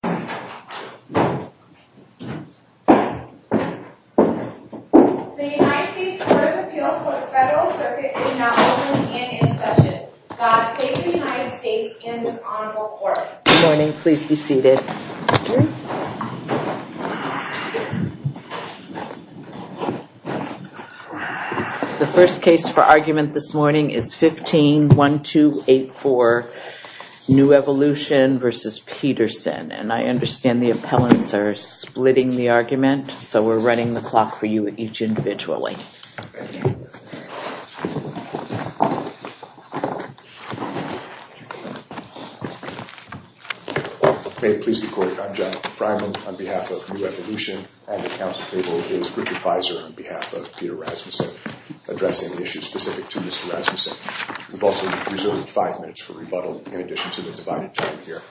The United States Court of Appeals for the Federal Circuit is now open and in session. The State of the United States and this Honorable Court. Good morning, please be seated. The first case for argument this morning is 15-1284 New Evolution v. Pedersen. And I understand the appellants are splitting the argument, so we're running the clock for you each individually. May it please the Court, I'm Jonathan Fryman. On behalf of New Evolution and the counsel table is Richard Pizer on behalf of Peter Rasmussen addressing the issue specific to Mr. Rasmussen. We've also reserved five minutes for rebuttal in addition to the divided time here.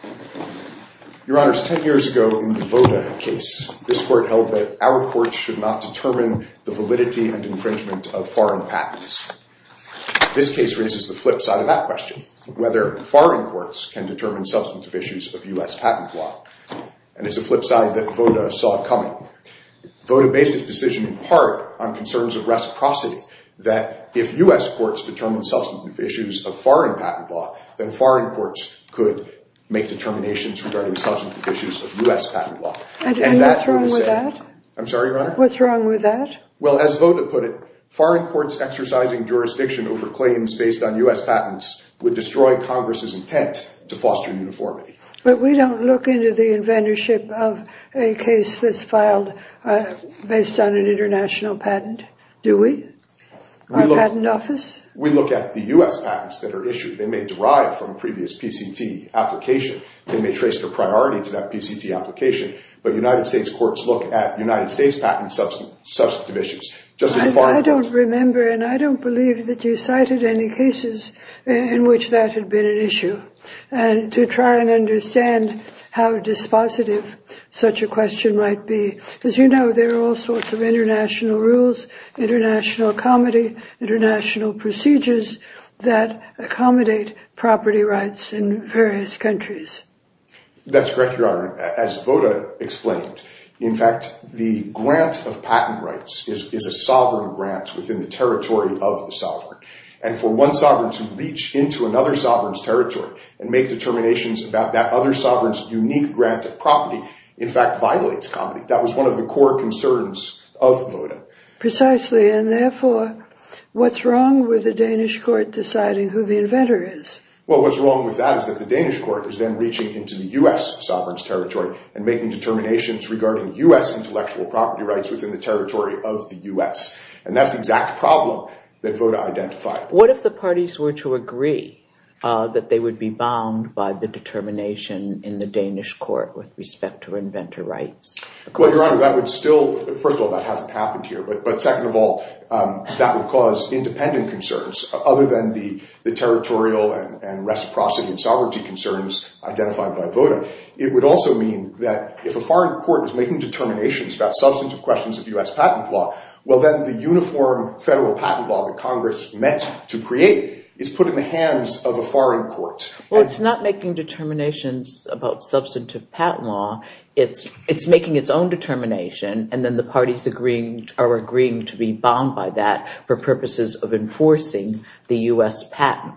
Your Honors, 10 years ago in the Voda case, this Court held that our courts should not determine the validity and infringement of foreign patents. This case raises the flip side of that question, whether foreign courts can determine substantive issues of U.S. patent law. And it's a flip side that Voda saw coming. Voda based his decision in part on concerns of reciprocity, that if U.S. courts determine substantive issues of foreign patent law, then foreign courts could make determinations regarding substantive issues of U.S. patent law. And that would have said... And what's wrong with that? I'm sorry, Your Honor? What's wrong with that? Well, as Voda put it, foreign courts exercising jurisdiction over claims based on U.S. patents would destroy Congress's intent to foster uniformity. But we don't look into the inventorship of a case that's filed based on an international patent, do we? Our patent office? We look at the U.S. patents that are issued. They may derive from a previous PCT application. They may trace their priority to that PCT application. But United States courts look at United States patent substantive issues. I don't remember, and I don't believe that you cited any cases in which that had been an issue. And to try and understand how dispositive such a question might be, as you know, there are all sorts of international rules, international comedy, international procedures that accommodate property rights in various countries. That's correct, Your Honor. As Voda explained, in fact, the grant of patent rights is a sovereign grant within the territory of the sovereign. And for one sovereign to reach into another sovereign's territory and make determinations about that other sovereign's unique grant of property, in fact, violates comedy. That was one of the core concerns of Voda. Precisely. And therefore, what's wrong with the Danish court deciding who the inventor is? Well, what's wrong with that is that the Danish court is then reaching into the U.S. sovereign's territory and making determinations regarding U.S. intellectual property rights within the territory of the U.S. And that's the exact problem that Voda identified. What if the parties were to agree that they would be bound by the determination in the Danish court with respect to inventor rights? Well, Your Honor, first of all, that hasn't happened here. But second of all, that would cause independent concerns other than the territorial and reciprocity and sovereignty concerns identified by Voda. It would also mean that if a foreign court is making determinations about substantive questions of U.S. patent law, well, then the uniform federal patent law that Congress meant to create is put in the hands of a foreign court. Well, it's not making determinations about substantive patent law. It's making its own determination, and then the parties are agreeing to be bound by that for purposes of enforcing the U.S. patent.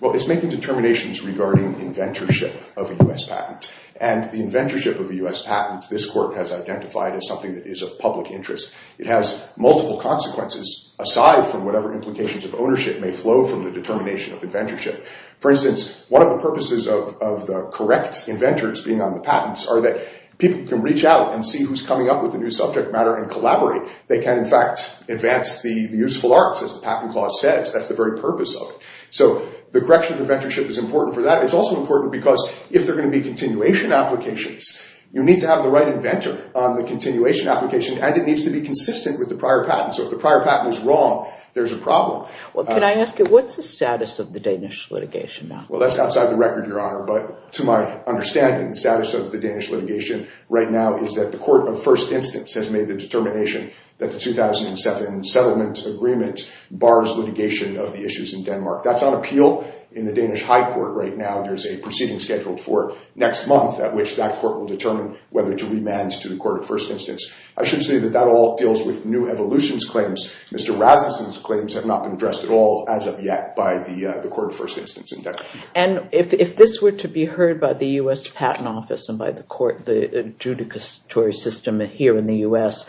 Well, it's making determinations regarding inventorship of a U.S. patent. And the inventorship of a U.S. patent, this court has identified as something that is of public interest. It has multiple consequences aside from whatever implications of ownership may flow from the determination of inventorship. For instance, one of the purposes of the correct inventors being on the patents are that people can reach out and see who's coming up with a new subject matter and collaborate. They can, in fact, advance the useful arts, as the patent clause says. That's the very purpose of it. So the correction of inventorship is important for that. It's also important because if there are going to be continuation applications, you need to have the right inventor on the continuation application, and it needs to be consistent with the prior patent. So if the prior patent is wrong, there's a problem. Well, can I ask you, what's the status of the Danish litigation now? Well, that's outside the record, Your Honor. But to my understanding, the status of the Danish litigation right now is that the court of first instance has made the determination that the 2007 settlement agreement bars litigation of the issues in Denmark. That's on appeal in the Danish High Court right now. There's a proceeding scheduled for next month at which that court will determine whether to remand to the court of first instance. I should say that that all deals with new evolutions claims. Mr. Rasmussen's claims have not been addressed at all as of yet by the court of first instance in Denmark. And if this were to be heard by the U.S. Patent Office and by the court, the adjudicatory system here in the U.S.,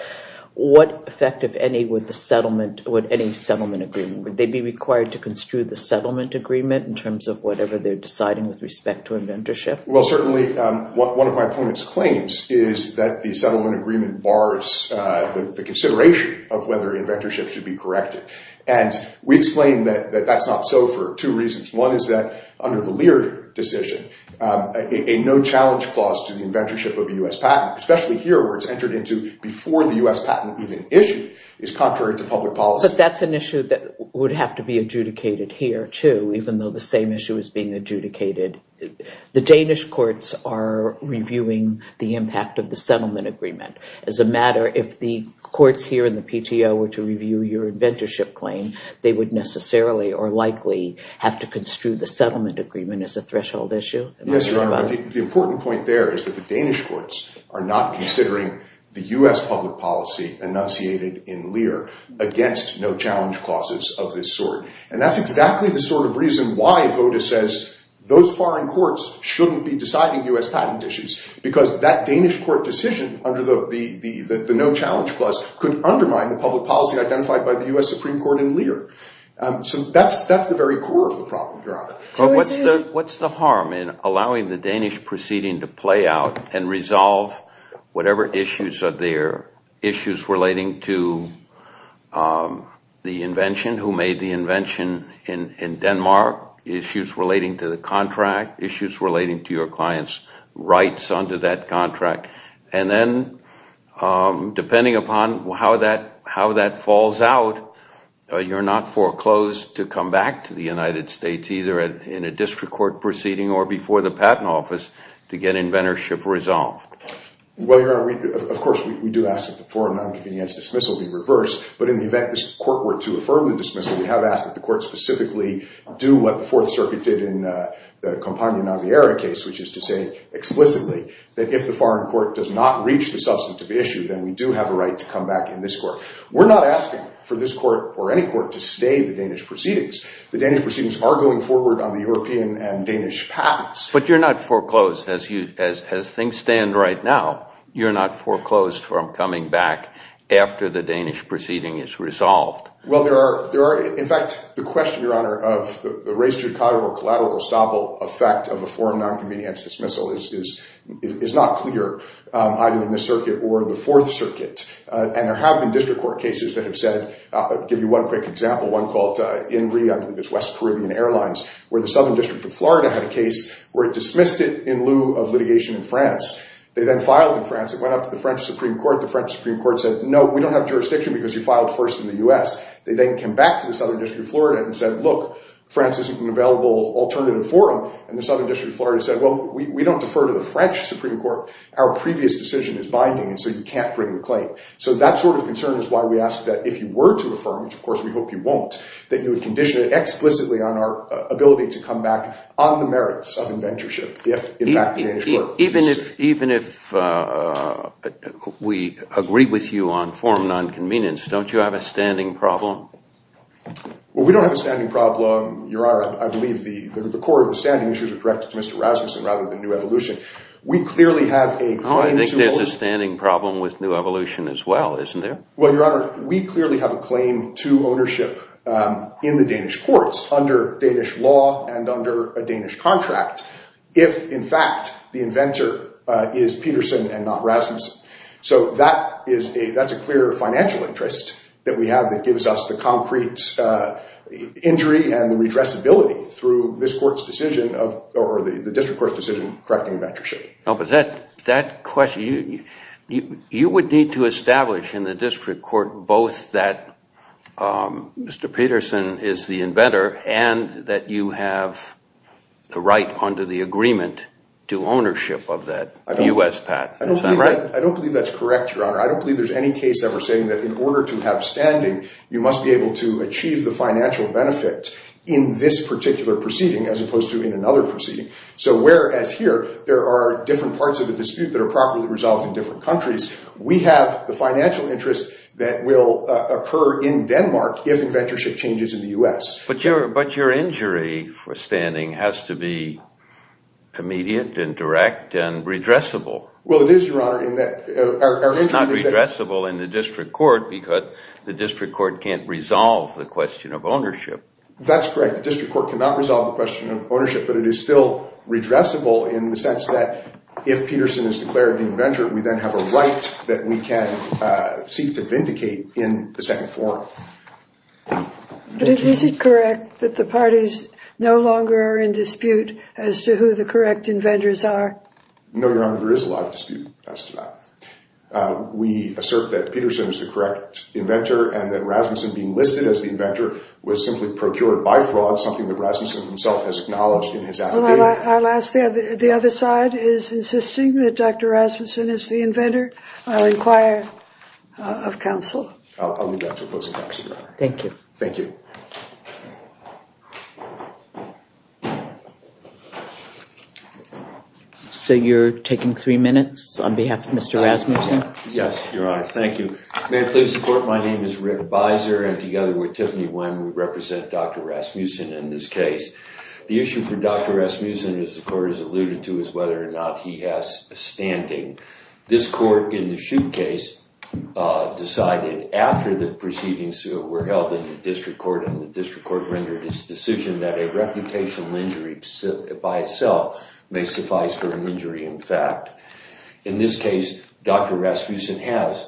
what effect, if any, would any settlement agreement, would they be required to construe the settlement agreement in terms of whatever they're deciding with respect to inventorship? Well, certainly one of my opponent's claims is that the settlement agreement bars the consideration of whether inventorship should be corrected. And we explain that that's not so for two reasons. One is that under the Lear decision, a no-challenge clause to the inventorship of a U.S. patent, especially here where it's entered into before the U.S. patent even issued, is contrary to public policy. But that's an issue that would have to be adjudicated here, too, even though the same issue is being adjudicated. The Danish courts are reviewing the impact of the settlement agreement. As a matter, if the courts here in the PTO were to review your inventorship claim, they would necessarily or likely have to construe the settlement agreement as a threshold issue? Yes, Your Honor. The important point there is that the Danish courts are not considering the U.S. public policy enunciated in Lear against no-challenge clauses of this sort. And that's exactly the sort of reason why VOTA says those foreign courts shouldn't be deciding U.S. patent issues, because that Danish court decision under the no-challenge clause could undermine the public policy identified by the U.S. Supreme Court in Lear. So that's the very core of the problem, Your Honor. But what's the harm in allowing the Danish proceeding to play out and resolve whatever issues are there? Issues relating to the invention, who made the invention in Denmark? Issues relating to the contract? Issues relating to your client's rights under that contract? And then, depending upon how that falls out, you're not foreclosed to come back to the United States, either in a district court proceeding or before the patent office, to get inventorship resolved? Well, Your Honor, of course we do ask that the foreign non-convenience dismissal be reversed. But in the event this court were to affirm the dismissal, we have asked that the court specifically do what the Fourth Circuit did in the Campagna Naviera case, which is to say explicitly that if the foreign court does not reach the substantive issue, then we do have a right to come back in this court. We're not asking for this court or any court to stay the Danish proceedings. The Danish proceedings are going forward on the European and Danish patents. But you're not foreclosed, as things stand right now, you're not foreclosed from coming back after the Danish proceeding is resolved? Well, there are – in fact, the question, Your Honor, of the res judicata or collateral estoppel effect of a foreign non-convenience dismissal is not clear, either in this circuit or the Fourth Circuit. And there have been district court cases that have said – I'll give you one quick example, one called INRI, I believe it's West Caribbean Airlines, where the Southern District of Florida had a case where it dismissed it in lieu of litigation in France. They then filed in France. It went up to the French Supreme Court. The French Supreme Court said, no, we don't have jurisdiction because you filed first in the U.S. They then came back to the Southern District of Florida and said, look, France isn't an available alternative forum. And the Southern District of Florida said, well, we don't defer to the French Supreme Court. Our previous decision is binding, and so you can't bring the claim. So that sort of concern is why we ask that if you were to affirm, which, of course, we hope you won't, that you would condition it explicitly on our ability to come back on the merits of inventorship if, in fact, the Danish court… Even if we agree with you on forum non-convenience, don't you have a standing problem? Well, we don't have a standing problem, Your Honor. I believe the core of the standing issues are directed to Mr. Rasmussen rather than New Evolution. We clearly have a claim to ownership… Oh, I think there's a standing problem with New Evolution as well, isn't there? Well, Your Honor, we clearly have a claim to ownership in the Danish courts under Danish law and under a Danish contract if, in fact, the inventor is Peterson and not Rasmussen. So that is a – that's a clear financial interest that we have that gives us the concrete injury and the redressability through this court's decision of – or the district court's decision correcting inventorship. No, but that question – you would need to establish in the district court both that Mr. Peterson is the inventor and that you have the right under the agreement to ownership of that U.S. patent. Is that right? I don't believe that's correct, Your Honor. I don't believe there's any case ever saying that in order to have standing, you must be able to achieve the financial benefit in this particular proceeding as opposed to in another proceeding. So whereas here there are different parts of the dispute that are properly resolved in different countries, we have the financial interest that will occur in Denmark if inventorship changes in the U.S. But your injury for standing has to be immediate and direct and redressable. Well, it is, Your Honor, in that – our injury is that… It's not redressable in the district court because the district court can't resolve the question of ownership. That's correct. The district court cannot resolve the question of ownership, but it is still redressable in the sense that if Peterson is declared the inventor, we then have a right that we can seek to vindicate in the second forum. But is it correct that the parties no longer are in dispute as to who the correct inventors are? No, Your Honor, there is a lot of dispute as to that. We assert that Peterson is the correct inventor and that Rasmussen being listed as the inventor was simply procured by fraud, something that Rasmussen himself has acknowledged in his affidavit. Well, I'll ask – the other side is insisting that Dr. Rasmussen is the inventor. I'll inquire of counsel. I'll leave that to opposing counsel, Your Honor. Thank you. Thank you. Thank you. So you're taking three minutes on behalf of Mr. Rasmussen? Yes, Your Honor. Thank you. May it please the court, my name is Rick Beiser and together with Tiffany Wyman, we represent Dr. Rasmussen in this case. The issue for Dr. Rasmussen, as the court has alluded to, is whether or not he has a standing. This court in the Shoup case decided after the proceedings were held in the district court and the district court rendered its decision that a reputational injury by itself may suffice for an injury in fact. In this case, Dr. Rasmussen has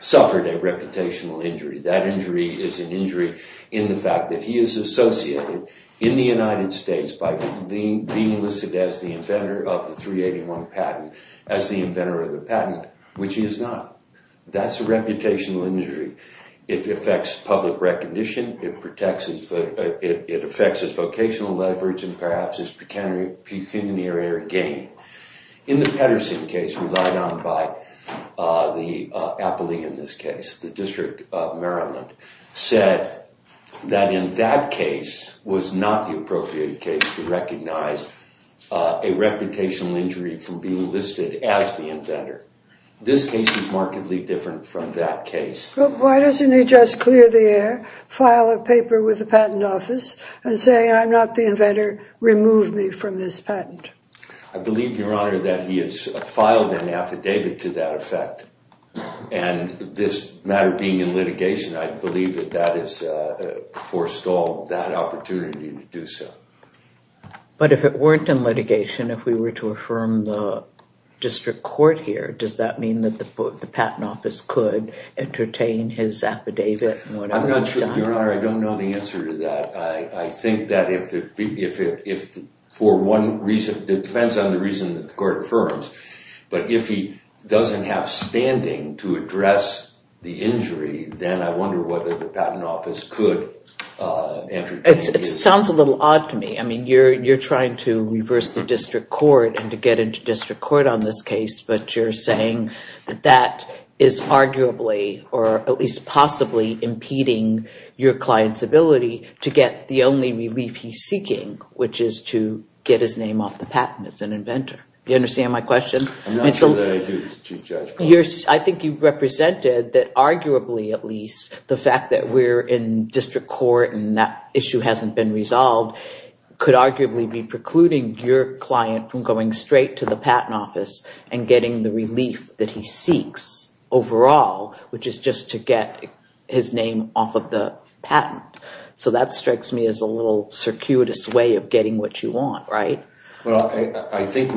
suffered a reputational injury. That injury is an injury in the fact that he is associated in the United States by being listed as the inventor of the 381 patent, as the inventor of the patent, which he is not. That's a reputational injury. It affects public recognition. It affects his vocational leverage and perhaps his pecuniary gain. In the Pedersen case, relied on by the appellee in this case, the District of Maryland, said that in that case was not the appropriate case to recognize a reputational injury from being listed as the inventor. This case is markedly different from that case. Why doesn't he just clear the air, file a paper with the patent office, and say I'm not the inventor, remove me from this patent? I believe, Your Honor, that he has filed an affidavit to that effect, and this matter being in litigation, I believe that that has forestalled that opportunity to do so. But if it weren't in litigation, if we were to affirm the district court here, does that mean that the patent office could entertain his affidavit? I'm not sure, Your Honor. I don't know the answer to that. I think that if for one reason, it depends on the reason that the court affirms, but if he doesn't have standing to address the injury, then I wonder whether the patent office could entertain it. It sounds a little odd to me. I mean, you're trying to reverse the district court and to get into district court on this case, but you're saying that that is arguably, or at least possibly, impeding your client's ability to get the only relief he's seeking, which is to get his name off the patent as an inventor. Do you understand my question? I'm not sure that I do, Chief Judge. I think you represented that arguably, at least, the fact that we're in district court and that issue hasn't been resolved could arguably be precluding your client from going straight to the patent office and getting the relief that he seeks overall, which is just to get his name off of the patent. So that strikes me as a little circuitous way of getting what you want, right? Well, I think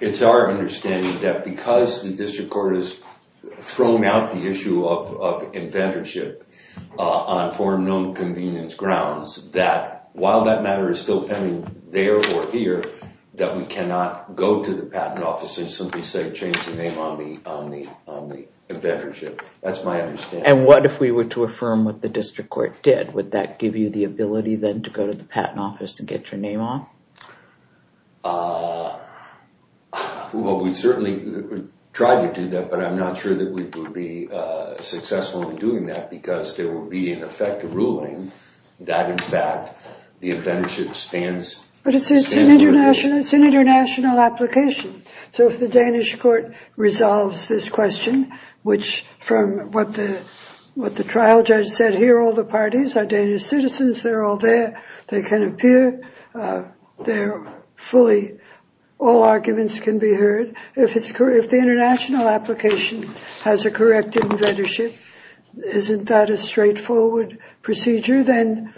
it's our understanding that because the district court has thrown out the issue of inventorship on foreign known convenience grounds, that while that matter is still pending there or here, that we cannot go to the patent office and simply say, change the name on the inventorship. That's my understanding. And what if we were to affirm what the district court did? Would that give you the ability then to go to the patent office and get your name off? Well, we'd certainly try to do that, but I'm not sure that we would be successful in doing that because there would be, in effect, a ruling that, in fact, the inventorship stands. But it's an international application. So if the Danish court resolves this question, which from what the trial judge said here, all the parties are Danish citizens, they're all there, they can appear, all arguments can be heard. But if the international application has a correct inventorship, isn't that a straightforward procedure then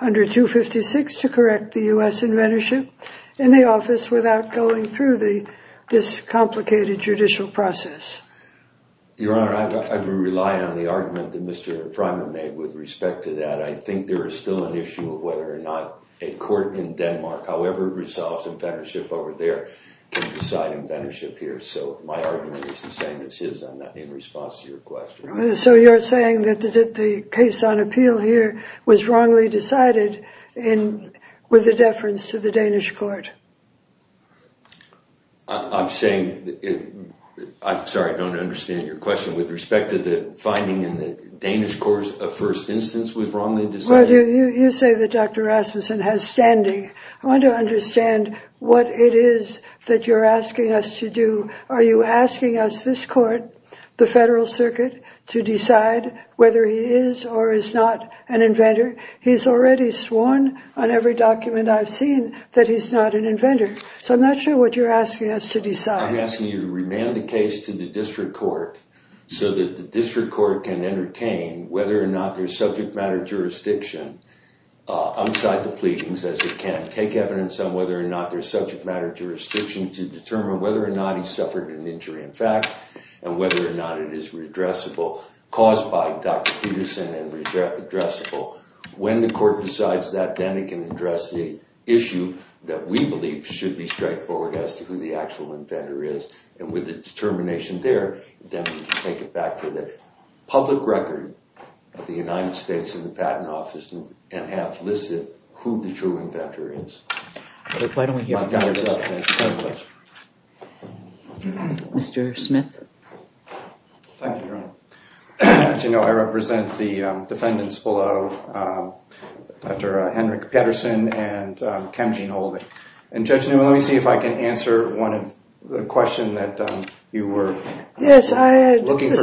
under 256 to correct the US inventorship in the office without going through this complicated judicial process? Your Honor, I would rely on the argument that Mr. Frymer made with respect to that. I think there is still an issue of whether or not a court in Denmark, however it resolves inventorship over there, can decide inventorship here. So my argument is the same as his in response to your question. So you're saying that the case on appeal here was wrongly decided with a deference to the Danish court? I'm sorry, I don't understand your question. With respect to the finding in the Danish court of first instance was wrongly decided? You say that Dr. Rasmussen has standing. I want to understand what it is that you're asking us to do. Are you asking us, this court, the Federal Circuit, to decide whether he is or is not an inventor? He's already sworn on every document I've seen that he's not an inventor. So I'm not sure what you're asking us to decide. I'm asking you to remand the case to the district court so that the district court can entertain whether or not there's subject matter jurisdiction outside the pleadings as it can. Take evidence on whether or not there's subject matter jurisdiction to determine whether or not he suffered an injury in fact and whether or not it is redressable caused by Dr. Peterson and redressable. When the court decides that, then it can address the issue that we believe should be straightforward as to who the actual inventor is. And with the determination there, then we can take it back to the public record of the United States and the Patent Office and have listed who the true inventor is. Why don't we hear from the others? Thank you. Mr. Smith? Thank you, Your Honor. As you know, I represent the defendants below, Dr. Henrik Peterson and Kam Jean Olden. And Judge Newman, let me see if I can answer one of the questions that you were looking for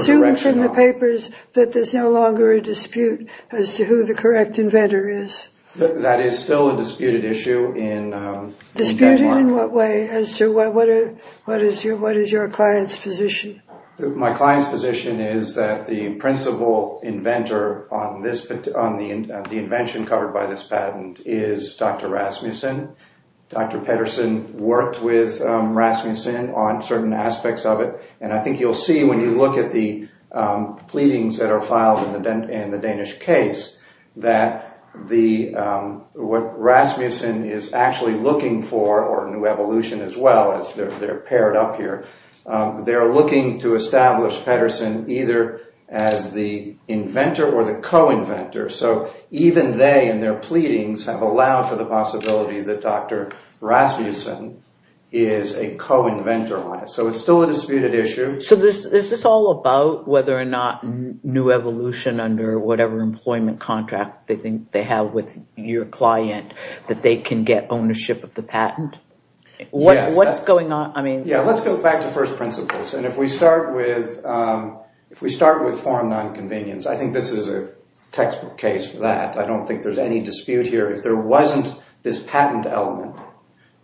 correction on. There's no longer a dispute as to who the correct inventor is. That is still a disputed issue in Denmark. Disputed in what way? As to what is your client's position? My client's position is that the principal inventor on the invention covered by this patent is Dr. Rasmussen. Dr. Peterson worked with Rasmussen on certain aspects of it. And I think you'll see when you look at the pleadings that are filed in the Danish case that what Rasmussen is actually looking for, or New Evolution as well as they're paired up here, they're looking to establish Peterson either as the inventor or the co-inventor. So even they and their pleadings have allowed for the possibility that Dr. Rasmussen is a co-inventor on it. So it's still a disputed issue. So is this all about whether or not New Evolution under whatever employment contract they think they have with your client that they can get ownership of the patent? Let's go back to first principles. And if we start with foreign non-convenience, I think this is a textbook case for that. I don't think there's any dispute here. If there wasn't this patent element,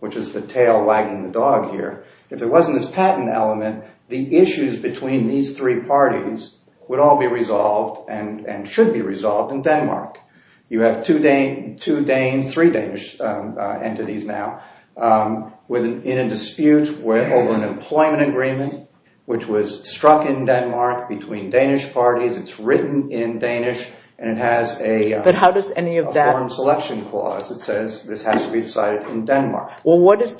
which is the tail wagging the dog here, if there wasn't this patent element, the issues between these three parties would all be resolved and should be resolved in Denmark. You have three Danish entities now in a dispute over an employment agreement, which was struck in Denmark between Danish parties. It's written in Danish and it has a foreign selection clause that says this has to be decided in Denmark. Well, what is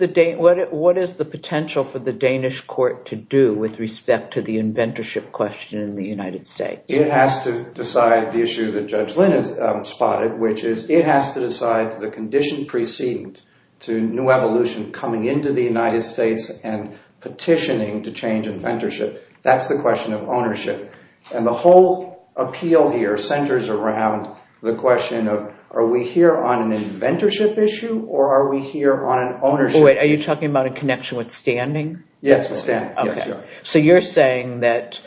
the potential for the Danish court to do with respect to the inventorship question in the United States? It has to decide the issue that Judge Lynn has spotted, which is it has to decide the condition preceding to New Evolution coming into the United States and petitioning to change inventorship. That's the question of ownership. And the whole appeal here centers around the question of are we here on an inventorship issue or are we here on an ownership issue? Wait, are you talking about a connection with standing? Yes, with standing. So you're saying that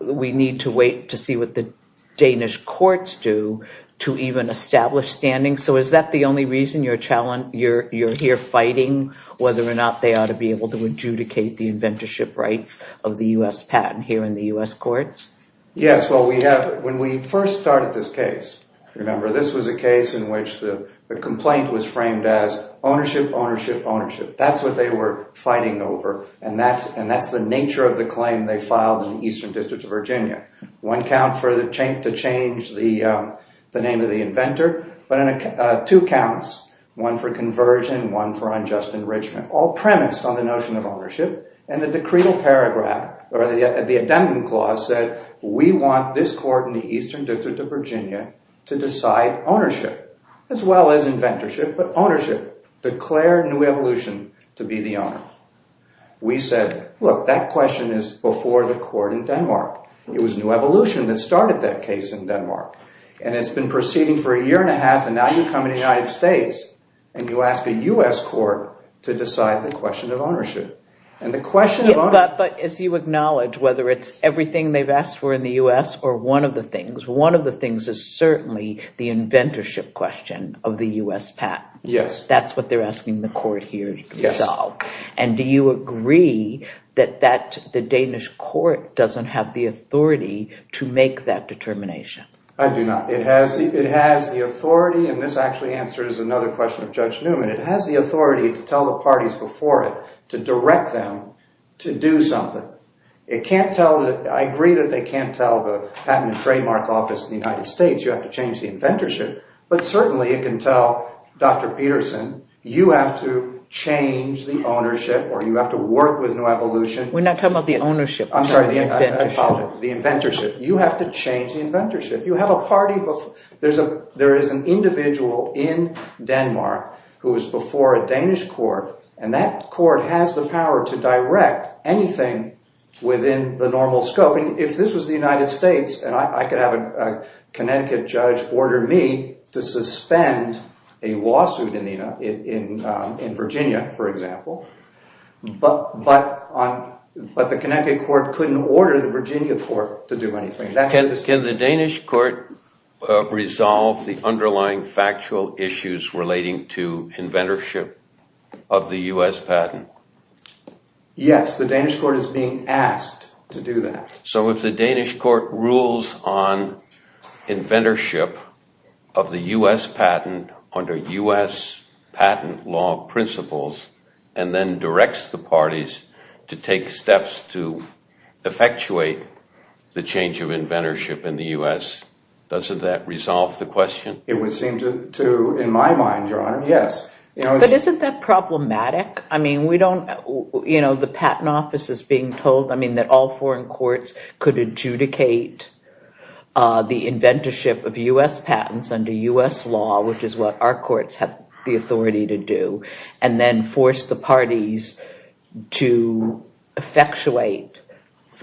we need to wait to see what the Danish courts do to even establish standing. So is that the only reason you're here fighting whether or not they ought to be able to adjudicate the inventorship rights of the U.S. patent here in the U.S. courts? Yes, well, when we first started this case, remember, this was a case in which the complaint was framed as ownership, ownership, ownership. That's what they were fighting over and that's the nature of the claim they filed in the Eastern District of Virginia. One count to change the name of the inventor, but two counts, one for conversion, one for unjust enrichment, all premised on the notion of ownership. And the decreed paragraph or the addendum clause said we want this court in the Eastern District of Virginia to decide ownership as well as inventorship, but ownership, declare New Evolution to be the owner. We said, look, that question is before the court in Denmark. It was New Evolution that started that case in Denmark. And it's been proceeding for a year and a half and now you come to the United States and you ask a U.S. court to decide the question of ownership. But as you acknowledge, whether it's everything they've asked for in the U.S. or one of the things, one of the things is certainly the inventorship question of the U.S. patent. That's what they're asking the court here to resolve. And do you agree that the Danish court doesn't have the authority to make that determination? I do not. It has the authority, and this actually answers another question of Judge Newman. It has the authority to tell the parties before it to direct them to do something. I agree that they can't tell the Patent and Trademark Office in the United States, you have to change the inventorship. But certainly it can tell Dr. Peterson, you have to change the ownership or you have to work with New Evolution. We're not talking about the ownership. But the Connecticut court couldn't order the Virginia court to do anything. Can the Danish court resolve the underlying factual issues relating to inventorship of the U.S. patent? Yes, the Danish court is being asked to do that. So if the Danish court rules on inventorship of the U.S. patent under U.S. patent law principles and then directs the parties to take steps to effectuate the change of inventorship in the U.S., doesn't that resolve the question? It would seem to, in my mind, Your Honor, yes. But isn't that problematic? The Patent Office is being told that all foreign courts could adjudicate the inventorship of U.S. patents under U.S. law, which is what our courts have the authority to do, and then force the parties to effectuate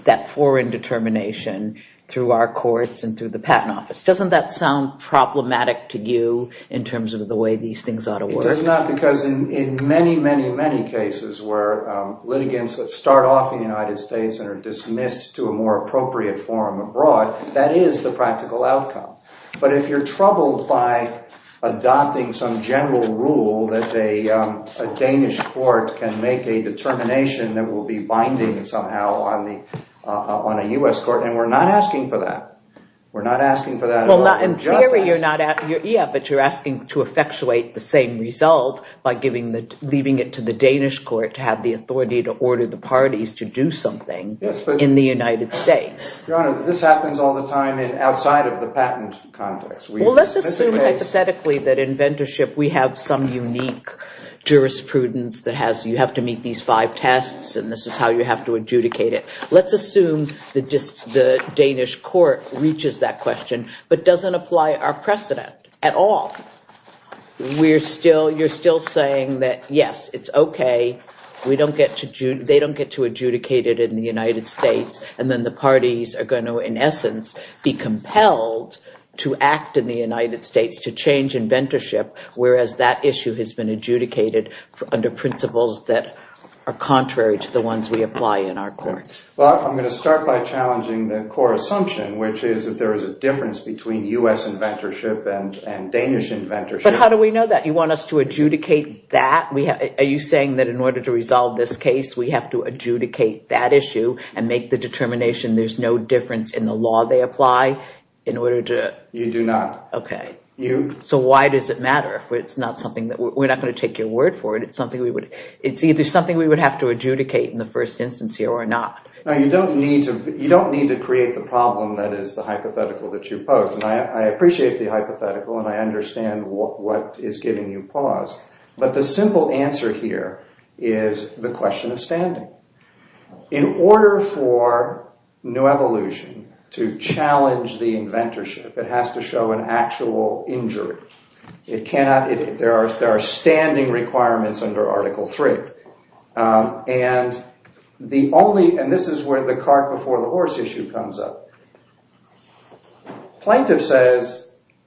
that foreign determination through our courts and through the Patent Office. Doesn't that sound problematic to you in terms of the way these things ought to work? It does not because in many, many, many cases where litigants start off in the United States and are dismissed to a more appropriate forum abroad, that is the practical outcome. But if you're troubled by adopting some general rule that a Danish court can make a determination that will be binding somehow on a U.S. court, then we're not asking for that. We're not asking for that. In theory, you're asking to effectuate the same result by leaving it to the Danish court to have the authority to order the parties to do something in the United States. Your Honor, this happens all the time outside of the patent context. Well, let's assume hypothetically that in inventorship we have some unique jurisprudence that has you have to meet these five tests and this is how you have to adjudicate it. Let's assume the Danish court reaches that question but doesn't apply our precedent at all. You're still saying that, yes, it's OK. They don't get to adjudicate it in the United States and then the parties are going to, in essence, be compelled to act in the United States to change inventorship, whereas that issue has been adjudicated under principles that are contrary to the ones we apply in our courts. Well, I'm going to start by challenging the core assumption, which is that there is a difference between U.S. inventorship and Danish inventorship. But how do we know that? You want us to adjudicate that? Are you saying that in order to resolve this case, we have to adjudicate that issue and make the determination there's no difference in the law they apply in order to... You do not. OK. You... So why does it matter? We're not going to take your word for it. It's either something we would have to adjudicate in the first instance here or not. No, you don't need to create the problem that is the hypothetical that you pose. I appreciate the hypothetical and I understand what is giving you pause. But the simple answer here is the question of standing. In order for new evolution to challenge the inventorship, it has to show an actual injury. It cannot... there are standing requirements under Article 3. And the only... and this is where the cart before the horse issue comes up. Plaintiff says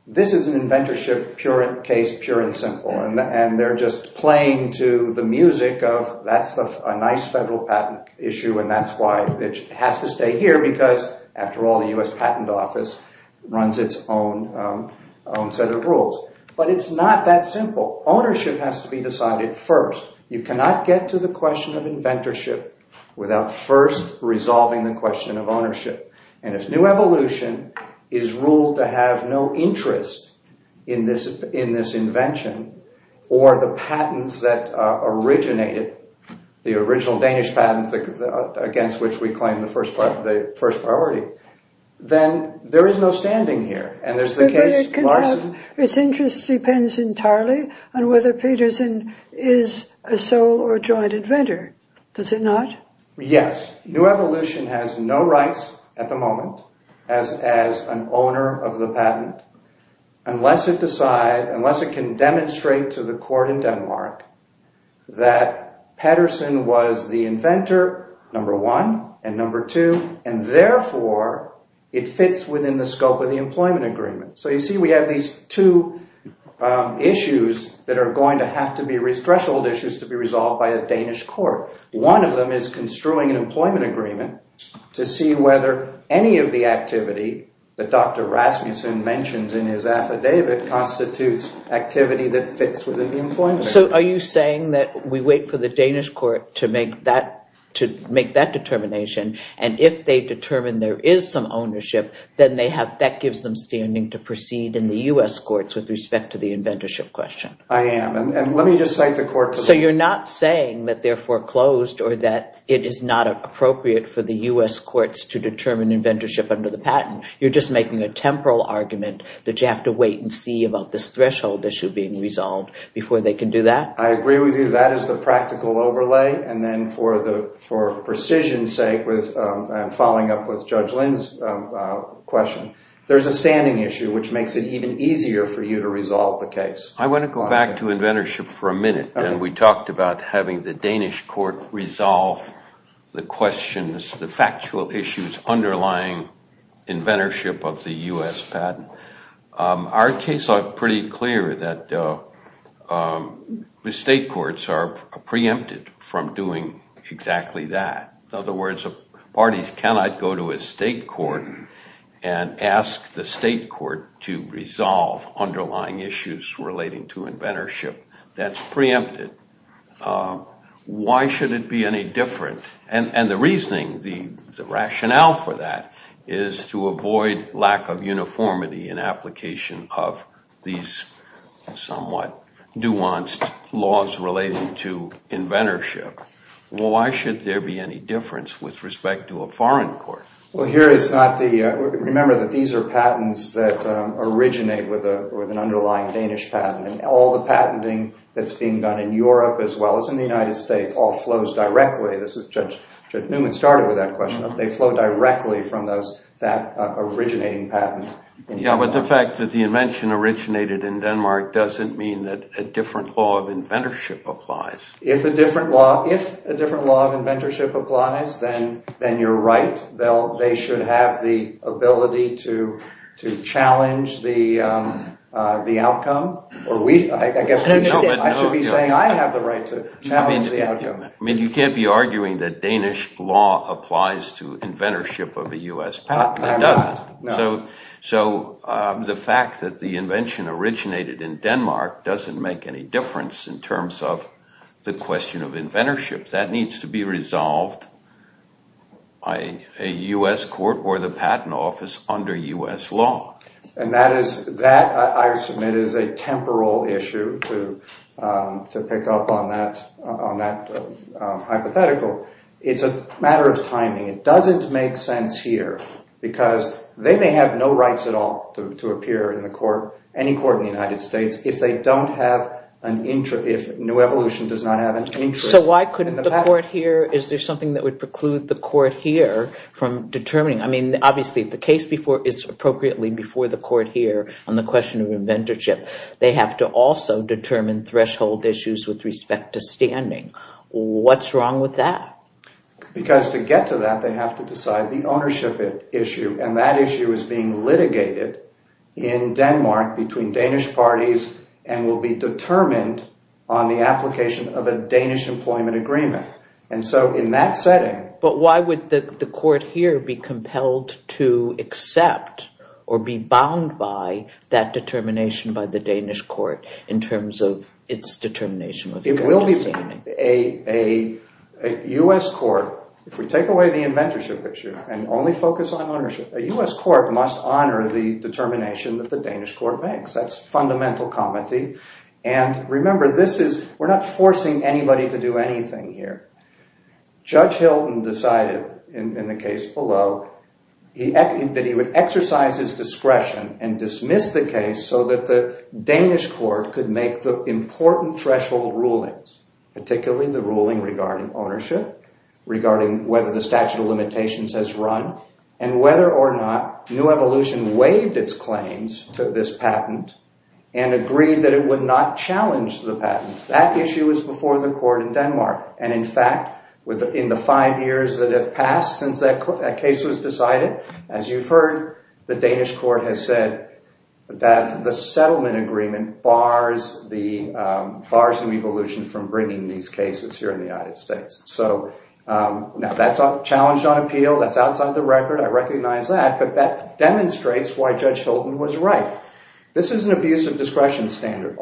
this is an inventorship case, pure and simple. And they're just playing to the music of that's a nice federal patent issue and that's why it has to stay here because, after all, the U.S. Patent Office runs its own set of rules. But it's not that simple. Ownership has to be decided first. You cannot get to the question of inventorship without first resolving the question of ownership. And if new evolution is ruled to have no interest in this invention or the patents that originated, the original Danish patents against which we claim the first priority, then there is no standing here. And there's the case... But it can have... its interest depends entirely on whether Peterson is a sole or joint inventor. Does it not? Yes. New evolution has no rights at the moment as an owner of the patent unless it decide... unless it can demonstrate to the court in Denmark that Peterson was the inventor, number one, and number two, and therefore it fits within the scope of the employment agreement. So you see we have these two issues that are going to have to be... threshold issues to be resolved by a Danish court. One of them is construing an employment agreement to see whether any of the activity that Dr. Rasmussen mentions in his affidavit constitutes activity that fits within the employment agreement. So are you saying that we wait for the Danish court to make that determination, and if they determine there is some ownership, then they have... that gives them standing to proceed in the U.S. courts with respect to the inventorship question? I am. And let me just cite the court... So you're not saying that they're foreclosed or that it is not appropriate for the U.S. courts to determine inventorship under the patent. You're just making a temporal argument that you have to wait and see about this threshold issue being resolved before they can do that? I agree with you. That is the practical overlay. And then for the... for precision's sake with... and following up with Judge Lynn's question, there's a standing issue which makes it even easier for you to resolve the case. I want to go back to inventorship for a minute, and we talked about having the Danish court resolve the questions, the factual issues underlying inventorship of the U.S. patent. Our case is pretty clear that the state courts are preempted from doing exactly that. In other words, the parties cannot go to a state court and ask the state court to resolve underlying issues relating to inventorship. That's preempted. Why should it be any different? And the reasoning, the rationale for that is to avoid lack of uniformity in application of these somewhat nuanced laws relating to inventorship. Well, why should there be any difference with respect to a foreign court? Well, here it's not the... remember that these are patents that originate with an underlying Danish patent, and all the patenting that's being done in Europe as well as in the United States all flows directly. This is... Judge Newman started with that question. They flow directly from that originating patent. Yeah, but the fact that the invention originated in Denmark doesn't mean that a different law of inventorship applies. If a different law of inventorship applies, then you're right. They should have the ability to challenge the outcome. I guess I should be saying I have the right to challenge the outcome. I mean, you can't be arguing that Danish law applies to inventorship of a U.S. patent. So the fact that the invention originated in Denmark doesn't make any difference in terms of the question of inventorship. That needs to be resolved by a U.S. court or the patent office under U.S. law. And that is... that, I submit, is a temporal issue to pick up on that hypothetical. It's a matter of timing. It doesn't make sense here because they may have no rights at all to appear in the court, any court in the United States, if they don't have an interest... if New Evolution does not have an interest... So why couldn't the court here... is there something that would preclude the court here from determining... I mean, obviously, if the case is appropriately before the court here on the question of inventorship, they have to also determine threshold issues with respect to standing. What's wrong with that? Because to get to that, they have to decide the ownership issue. And that issue is being litigated in Denmark between Danish parties and will be determined on the application of a Danish employment agreement. And so in that setting... But why would the court here be compelled to accept or be bound by that determination by the Danish court in terms of its determination with regard to standing? A U.S. court... if we take away the inventorship issue and only focus on ownership, a U.S. court must honor the determination that the Danish court makes. That's fundamental comity. And remember, this is... we're not forcing anybody to do anything here. Judge Hilton decided, in the case below, that he would exercise his discretion and dismiss the case so that the Danish court could make the important threshold rulings, particularly the ruling regarding ownership, regarding whether the statute of limitations has run, and whether or not New Evolution waived its claims to this patent and agreed that it would not challenge the patent. That issue is before the court in Denmark. And in fact, in the five years that have passed since that case was decided, as you've heard, the Danish court has said that the settlement agreement bars New Evolution from bringing these cases here in the United States. So now that's challenged on appeal. That's outside the record. I recognize that. But that demonstrates why Judge Hilton was right. This is an abuse of discretion standard.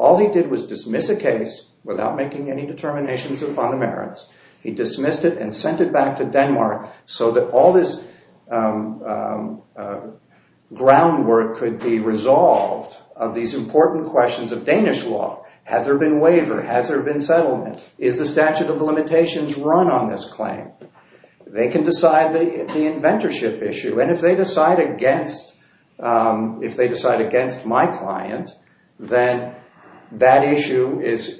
He dismissed it and sent it back to Denmark so that all this groundwork could be resolved of these important questions of Danish law. Has there been waiver? Has there been settlement? Is the statute of limitations run on this claim? They can decide the inventorship issue. And if they decide against my client, then that issue is...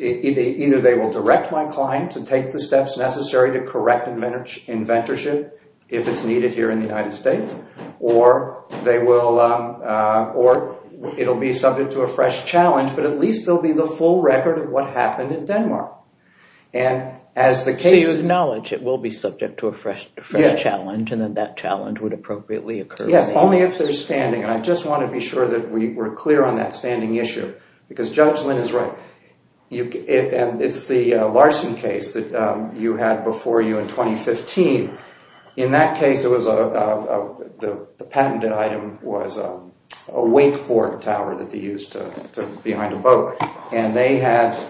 necessary to correct inventorship if it's needed here in the United States, or it will be subject to a fresh challenge, but at least there will be the full record of what happened in Denmark. And as the case... So you acknowledge it will be subject to a fresh challenge and that that challenge would appropriately occur? Yes, only if they're standing. And I just want to be sure that we're clear on that standing issue because Judge Lynn is right. It's the Larson case that you had before you in 2015. In that case, the patented item was a wakeboard tower that they used behind a boat. And the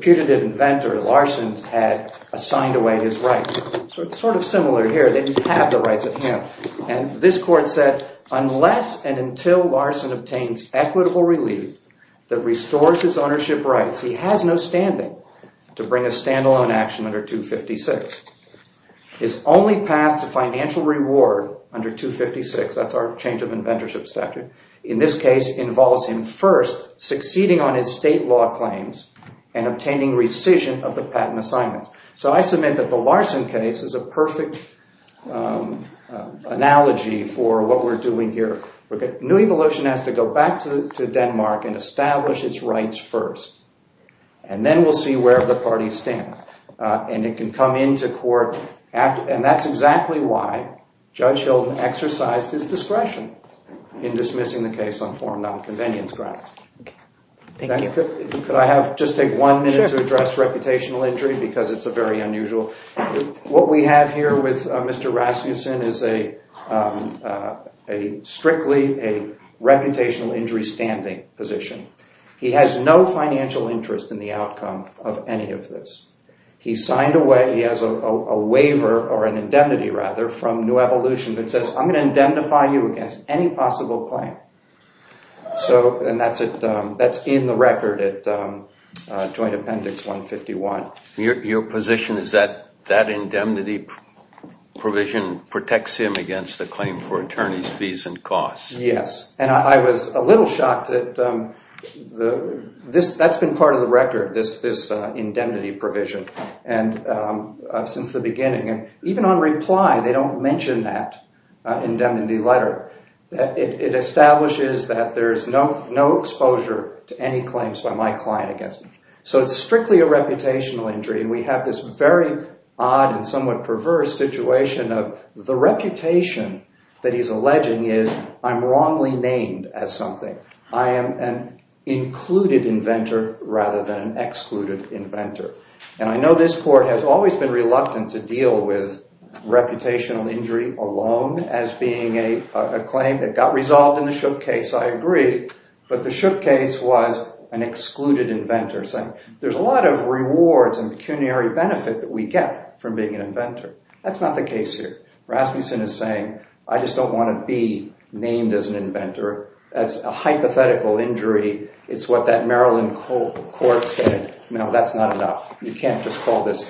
putative inventor, Larson, had assigned away his rights. So it's sort of similar here. They didn't have the rights at hand. And this court said, unless and until Larson obtains equitable relief that restores his ownership rights, he has no standing to bring a standalone action under 256. His only path to financial reward under 256, that's our change of inventorship statute, in this case involves him first succeeding on his state law claims and obtaining rescission of the patent assignments. So I submit that the Larson case is a perfect analogy for what we're doing here. New Evolution has to go back to Denmark and establish its rights first. And then we'll see where the parties stand. And it can come into court. And that's exactly why Judge Hilden exercised his discretion in dismissing the case on foreign nonconvenience grounds. Thank you. Could I have just take one minute to address reputational injury because it's a very unusual. What we have here with Mr. Rasmussen is strictly a reputational injury standing position. He has no financial interest in the outcome of any of this. He signed away. He has a waiver or an indemnity, rather, from New Evolution that says, I'm going to indemnify you against any possible claim. And that's in the record at Joint Appendix 151. Your position is that that indemnity provision protects him against the claim for attorney's fees and costs. Yes. And I was a little shocked that that's been part of the record, this indemnity provision, since the beginning. Even on reply, they don't mention that indemnity letter. It establishes that there's no exposure to any claims by my client against me. So it's strictly a reputational injury. And we have this very odd and somewhat perverse situation of the reputation that he's alleging is I'm wrongly named as something. I am an included inventor rather than an excluded inventor. And I know this court has always been reluctant to deal with reputational injury alone as being a claim that got resolved in the Shook case. I agree. But the Shook case was an excluded inventor. There's a lot of rewards and pecuniary benefit that we get from being an inventor. That's not the case here. Rasmussen is saying I just don't want to be named as an inventor. That's a hypothetical injury. It's what that Maryland court said. No, that's not enough. You can't just call this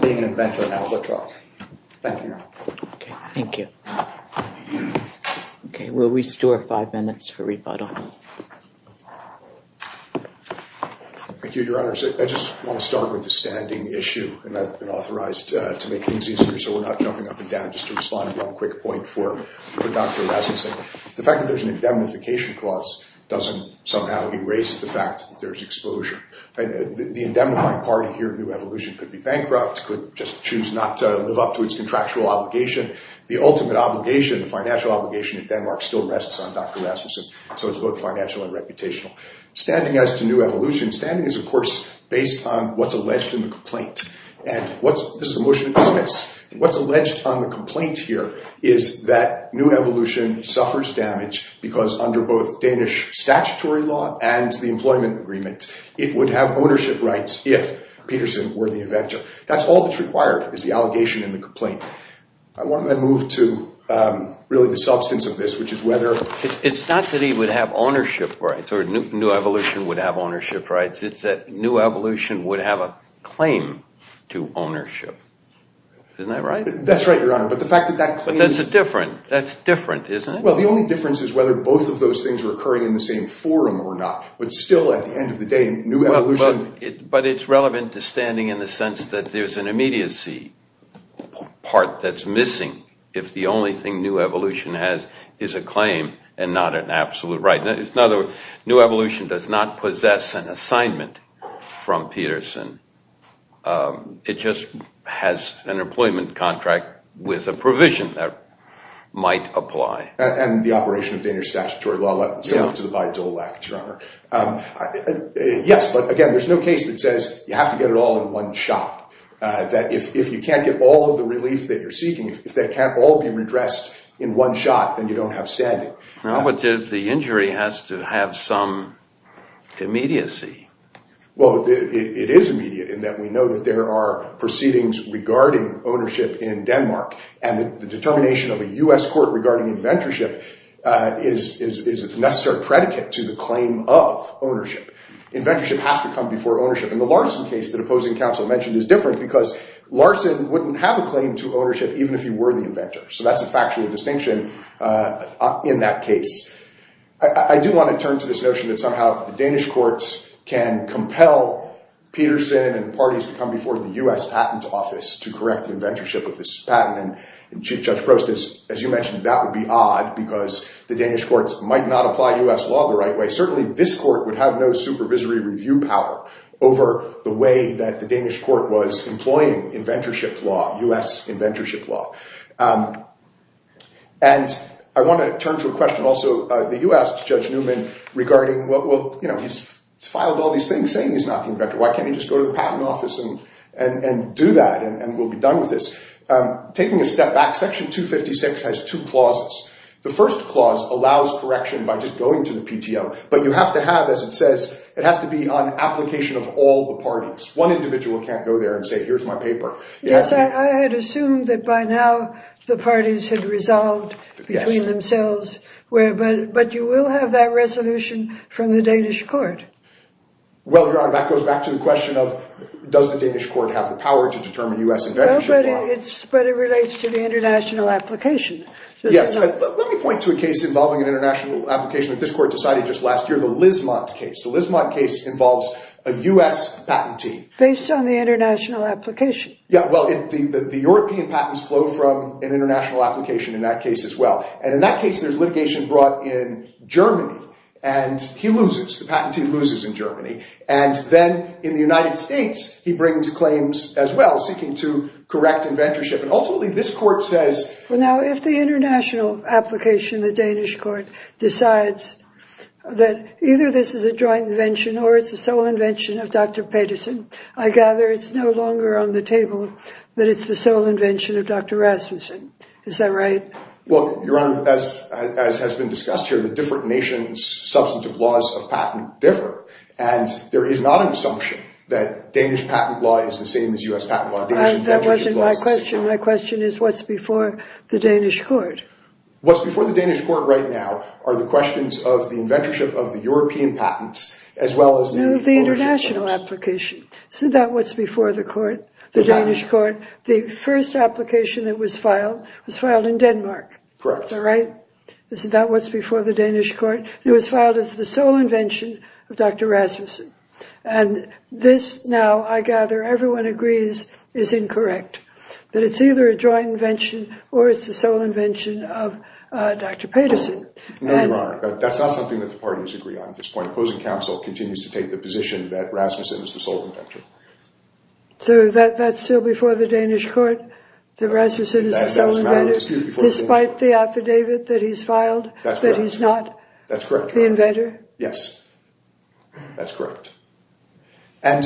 being an inventor an albatross. Thank you, Your Honor. Okay. Thank you. Okay. We'll restore five minutes for rebuttal. Thank you, Your Honor. I just want to start with the standing issue, and I've been authorized to make things easier so we're not jumping up and down, just to respond to one quick point for Dr. Rasmussen. The fact that there's an indemnification clause doesn't somehow erase the fact that there's exposure. The indemnifying party here at New Evolution could be bankrupt, could just choose not to live up to its contractual obligation. The ultimate obligation, the financial obligation at Denmark, still rests on Dr. Rasmussen, so it's both financial and reputational. Standing as to New Evolution, standing is, of course, based on what's alleged in the complaint. This is a motion to dismiss. What's alleged on the complaint here is that New Evolution suffers damage because under both Danish statutory law and the employment agreement, it would have ownership rights if Peterson were the inventor. That's all that's required is the allegation and the complaint. I want to move to really the substance of this, which is whether— It's not that he would have ownership rights or New Evolution would have ownership rights. It's that New Evolution would have a claim to ownership. Isn't that right? That's right, Your Honor, but the fact that that claim— But that's different. That's different, isn't it? Well, the only difference is whether both of those things are occurring in the same forum or not. But still, at the end of the day, New Evolution— if the only thing New Evolution has is a claim and not an absolute right. In other words, New Evolution does not possess an assignment from Peterson. It just has an employment contract with a provision that might apply. And the operation of Danish statutory law, similar to the Bayh-Dole Act, Your Honor. Yes, but again, there's no case that says you have to get it all in one shot. That if you can't get all of the relief that you're seeking, if that can't all be redressed in one shot, then you don't have standing. No, but the injury has to have some immediacy. Well, it is immediate in that we know that there are proceedings regarding ownership in Denmark. And the determination of a U.S. court regarding inventorship is a necessary predicate to the claim of ownership. Inventorship has to come before ownership. And the Larson case that opposing counsel mentioned is different because Larson wouldn't have a claim to ownership even if he were the inventor. So that's a factual distinction in that case. I do want to turn to this notion that somehow the Danish courts can compel Peterson and parties to come before the U.S. Patent Office to correct the inventorship of this patent. And Chief Judge Prost, as you mentioned, that would be odd because the Danish courts might not apply U.S. law the right way. Certainly this court would have no supervisory review power over the way that the Danish court was employing inventorship law, U.S. inventorship law. And I want to turn to a question also that you asked, Judge Newman, regarding, well, you know, he's filed all these things saying he's not the inventor. Why can't he just go to the Patent Office and do that and we'll be done with this? Taking a step back, Section 256 has two clauses. The first clause allows correction by just going to the PTO, but you have to have, as it says, it has to be on application of all the parties. One individual can't go there and say, here's my paper. Yes, I had assumed that by now the parties had resolved between themselves, but you will have that resolution from the Danish court. Well, Your Honor, that goes back to the question of, does the Danish court have the power to determine U.S. inventorship law? But it relates to the international application. Yes, but let me point to a case involving an international application that this court decided just last year, the Lismont case. The Lismont case involves a U.S. patentee. Based on the international application. Yeah, well, the European patents flow from an international application in that case as well. And in that case, there's litigation brought in Germany, and he loses. The patentee loses in Germany. And then in the United States, he brings claims as well, seeking to correct inventorship. Well, now, if the international application, the Danish court, decides that either this is a joint invention or it's the sole invention of Dr. Pedersen, I gather it's no longer on the table that it's the sole invention of Dr. Rasmussen. Is that right? Well, Your Honor, as has been discussed here, the different nations' substantive laws of patent differ. And there is not an assumption that Danish patent law is the same as U.S. patent law. That wasn't my question. My question is, what's before the Danish court? What's before the Danish court right now are the questions of the inventorship of the European patents as well as the international applications. Is that what's before the Danish court? The first application that was filed was filed in Denmark. Correct. Is that right? Is that what's before the Danish court? It was filed as the sole invention of Dr. Rasmussen. And this, now, I gather everyone agrees, is incorrect, that it's either a joint invention or it's the sole invention of Dr. Pedersen. No, Your Honor. That's not something that the parties agree on at this point. Opposing counsel continues to take the position that Rasmussen is the sole inventor. So that's still before the Danish court, that Rasmussen is the sole inventor, despite the affidavit that he's filed, that he's not the inventor? That's correct. Yes. That's correct. And,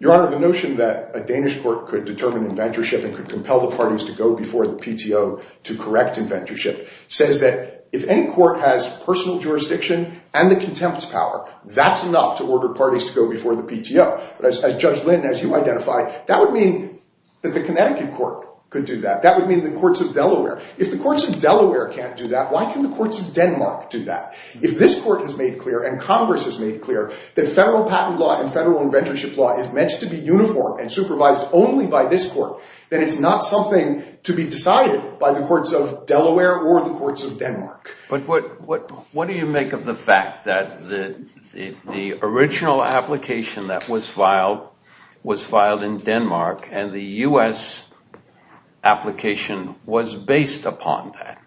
Your Honor, the notion that a Danish court could determine inventorship and could compel the parties to go before the PTO to correct inventorship says that if any court has personal jurisdiction and the contempt's power, that's enough to order parties to go before the PTO. As Judge Lynn, as you identified, that would mean that the Connecticut court could do that. That would mean the courts of Delaware. If the courts of Delaware can't do that, why can the courts of Denmark do that? If this court has made clear and Congress has made clear that federal patent law and federal inventorship law is meant to be uniform and supervised only by this court, then it's not something to be decided by the courts of Delaware or the courts of Denmark. But what do you make of the fact that the original application that was filed was filed in Denmark and the U.S. application was based upon that?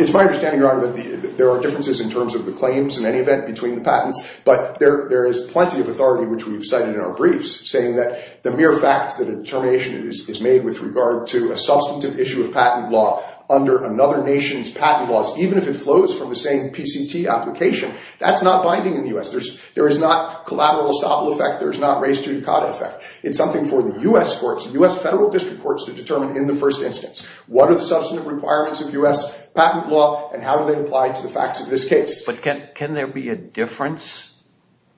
It's my understanding, Your Honor, that there are differences in terms of the claims, in any event, between the patents. But there is plenty of authority, which we've cited in our briefs, saying that the mere fact that a determination is made with regard to a substantive issue of patent law under another nation's patent laws, even if it flows from the same PCT application, that's not binding in the U.S. There is not collateral estoppel effect. There is not res judicata effect. It's something for the U.S. courts, U.S. federal district courts, to determine in the first instance. What are the substantive requirements of U.S. patent law, and how do they apply to the facts of this case? But can there be a difference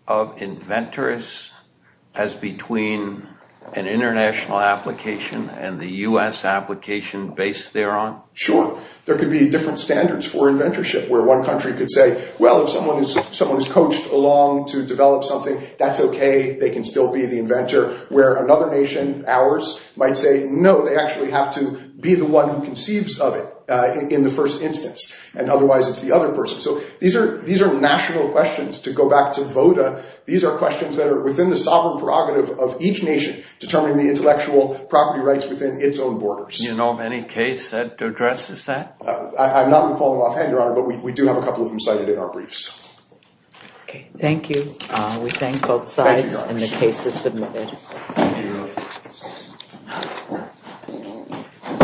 of inventors as between an international application and the U.S. application based thereon? Sure. There could be different standards for inventorship, where one country could say, well, if someone is coached along to develop something, that's okay, they can still be the inventor. Where another nation, ours, might say, no, they actually have to be the one who conceives of it in the first instance, and otherwise it's the other person. So these are national questions. To go back to VOTA, these are questions that are within the sovereign prerogative of each nation determining the intellectual property rights within its own borders. Do you know of any case that addresses that? I'm not going to call them offhand, Your Honor, but we do have a couple of them cited in our briefs. Okay. Thank you. We thank both sides, and the case is submitted. Thank you, Your Honor.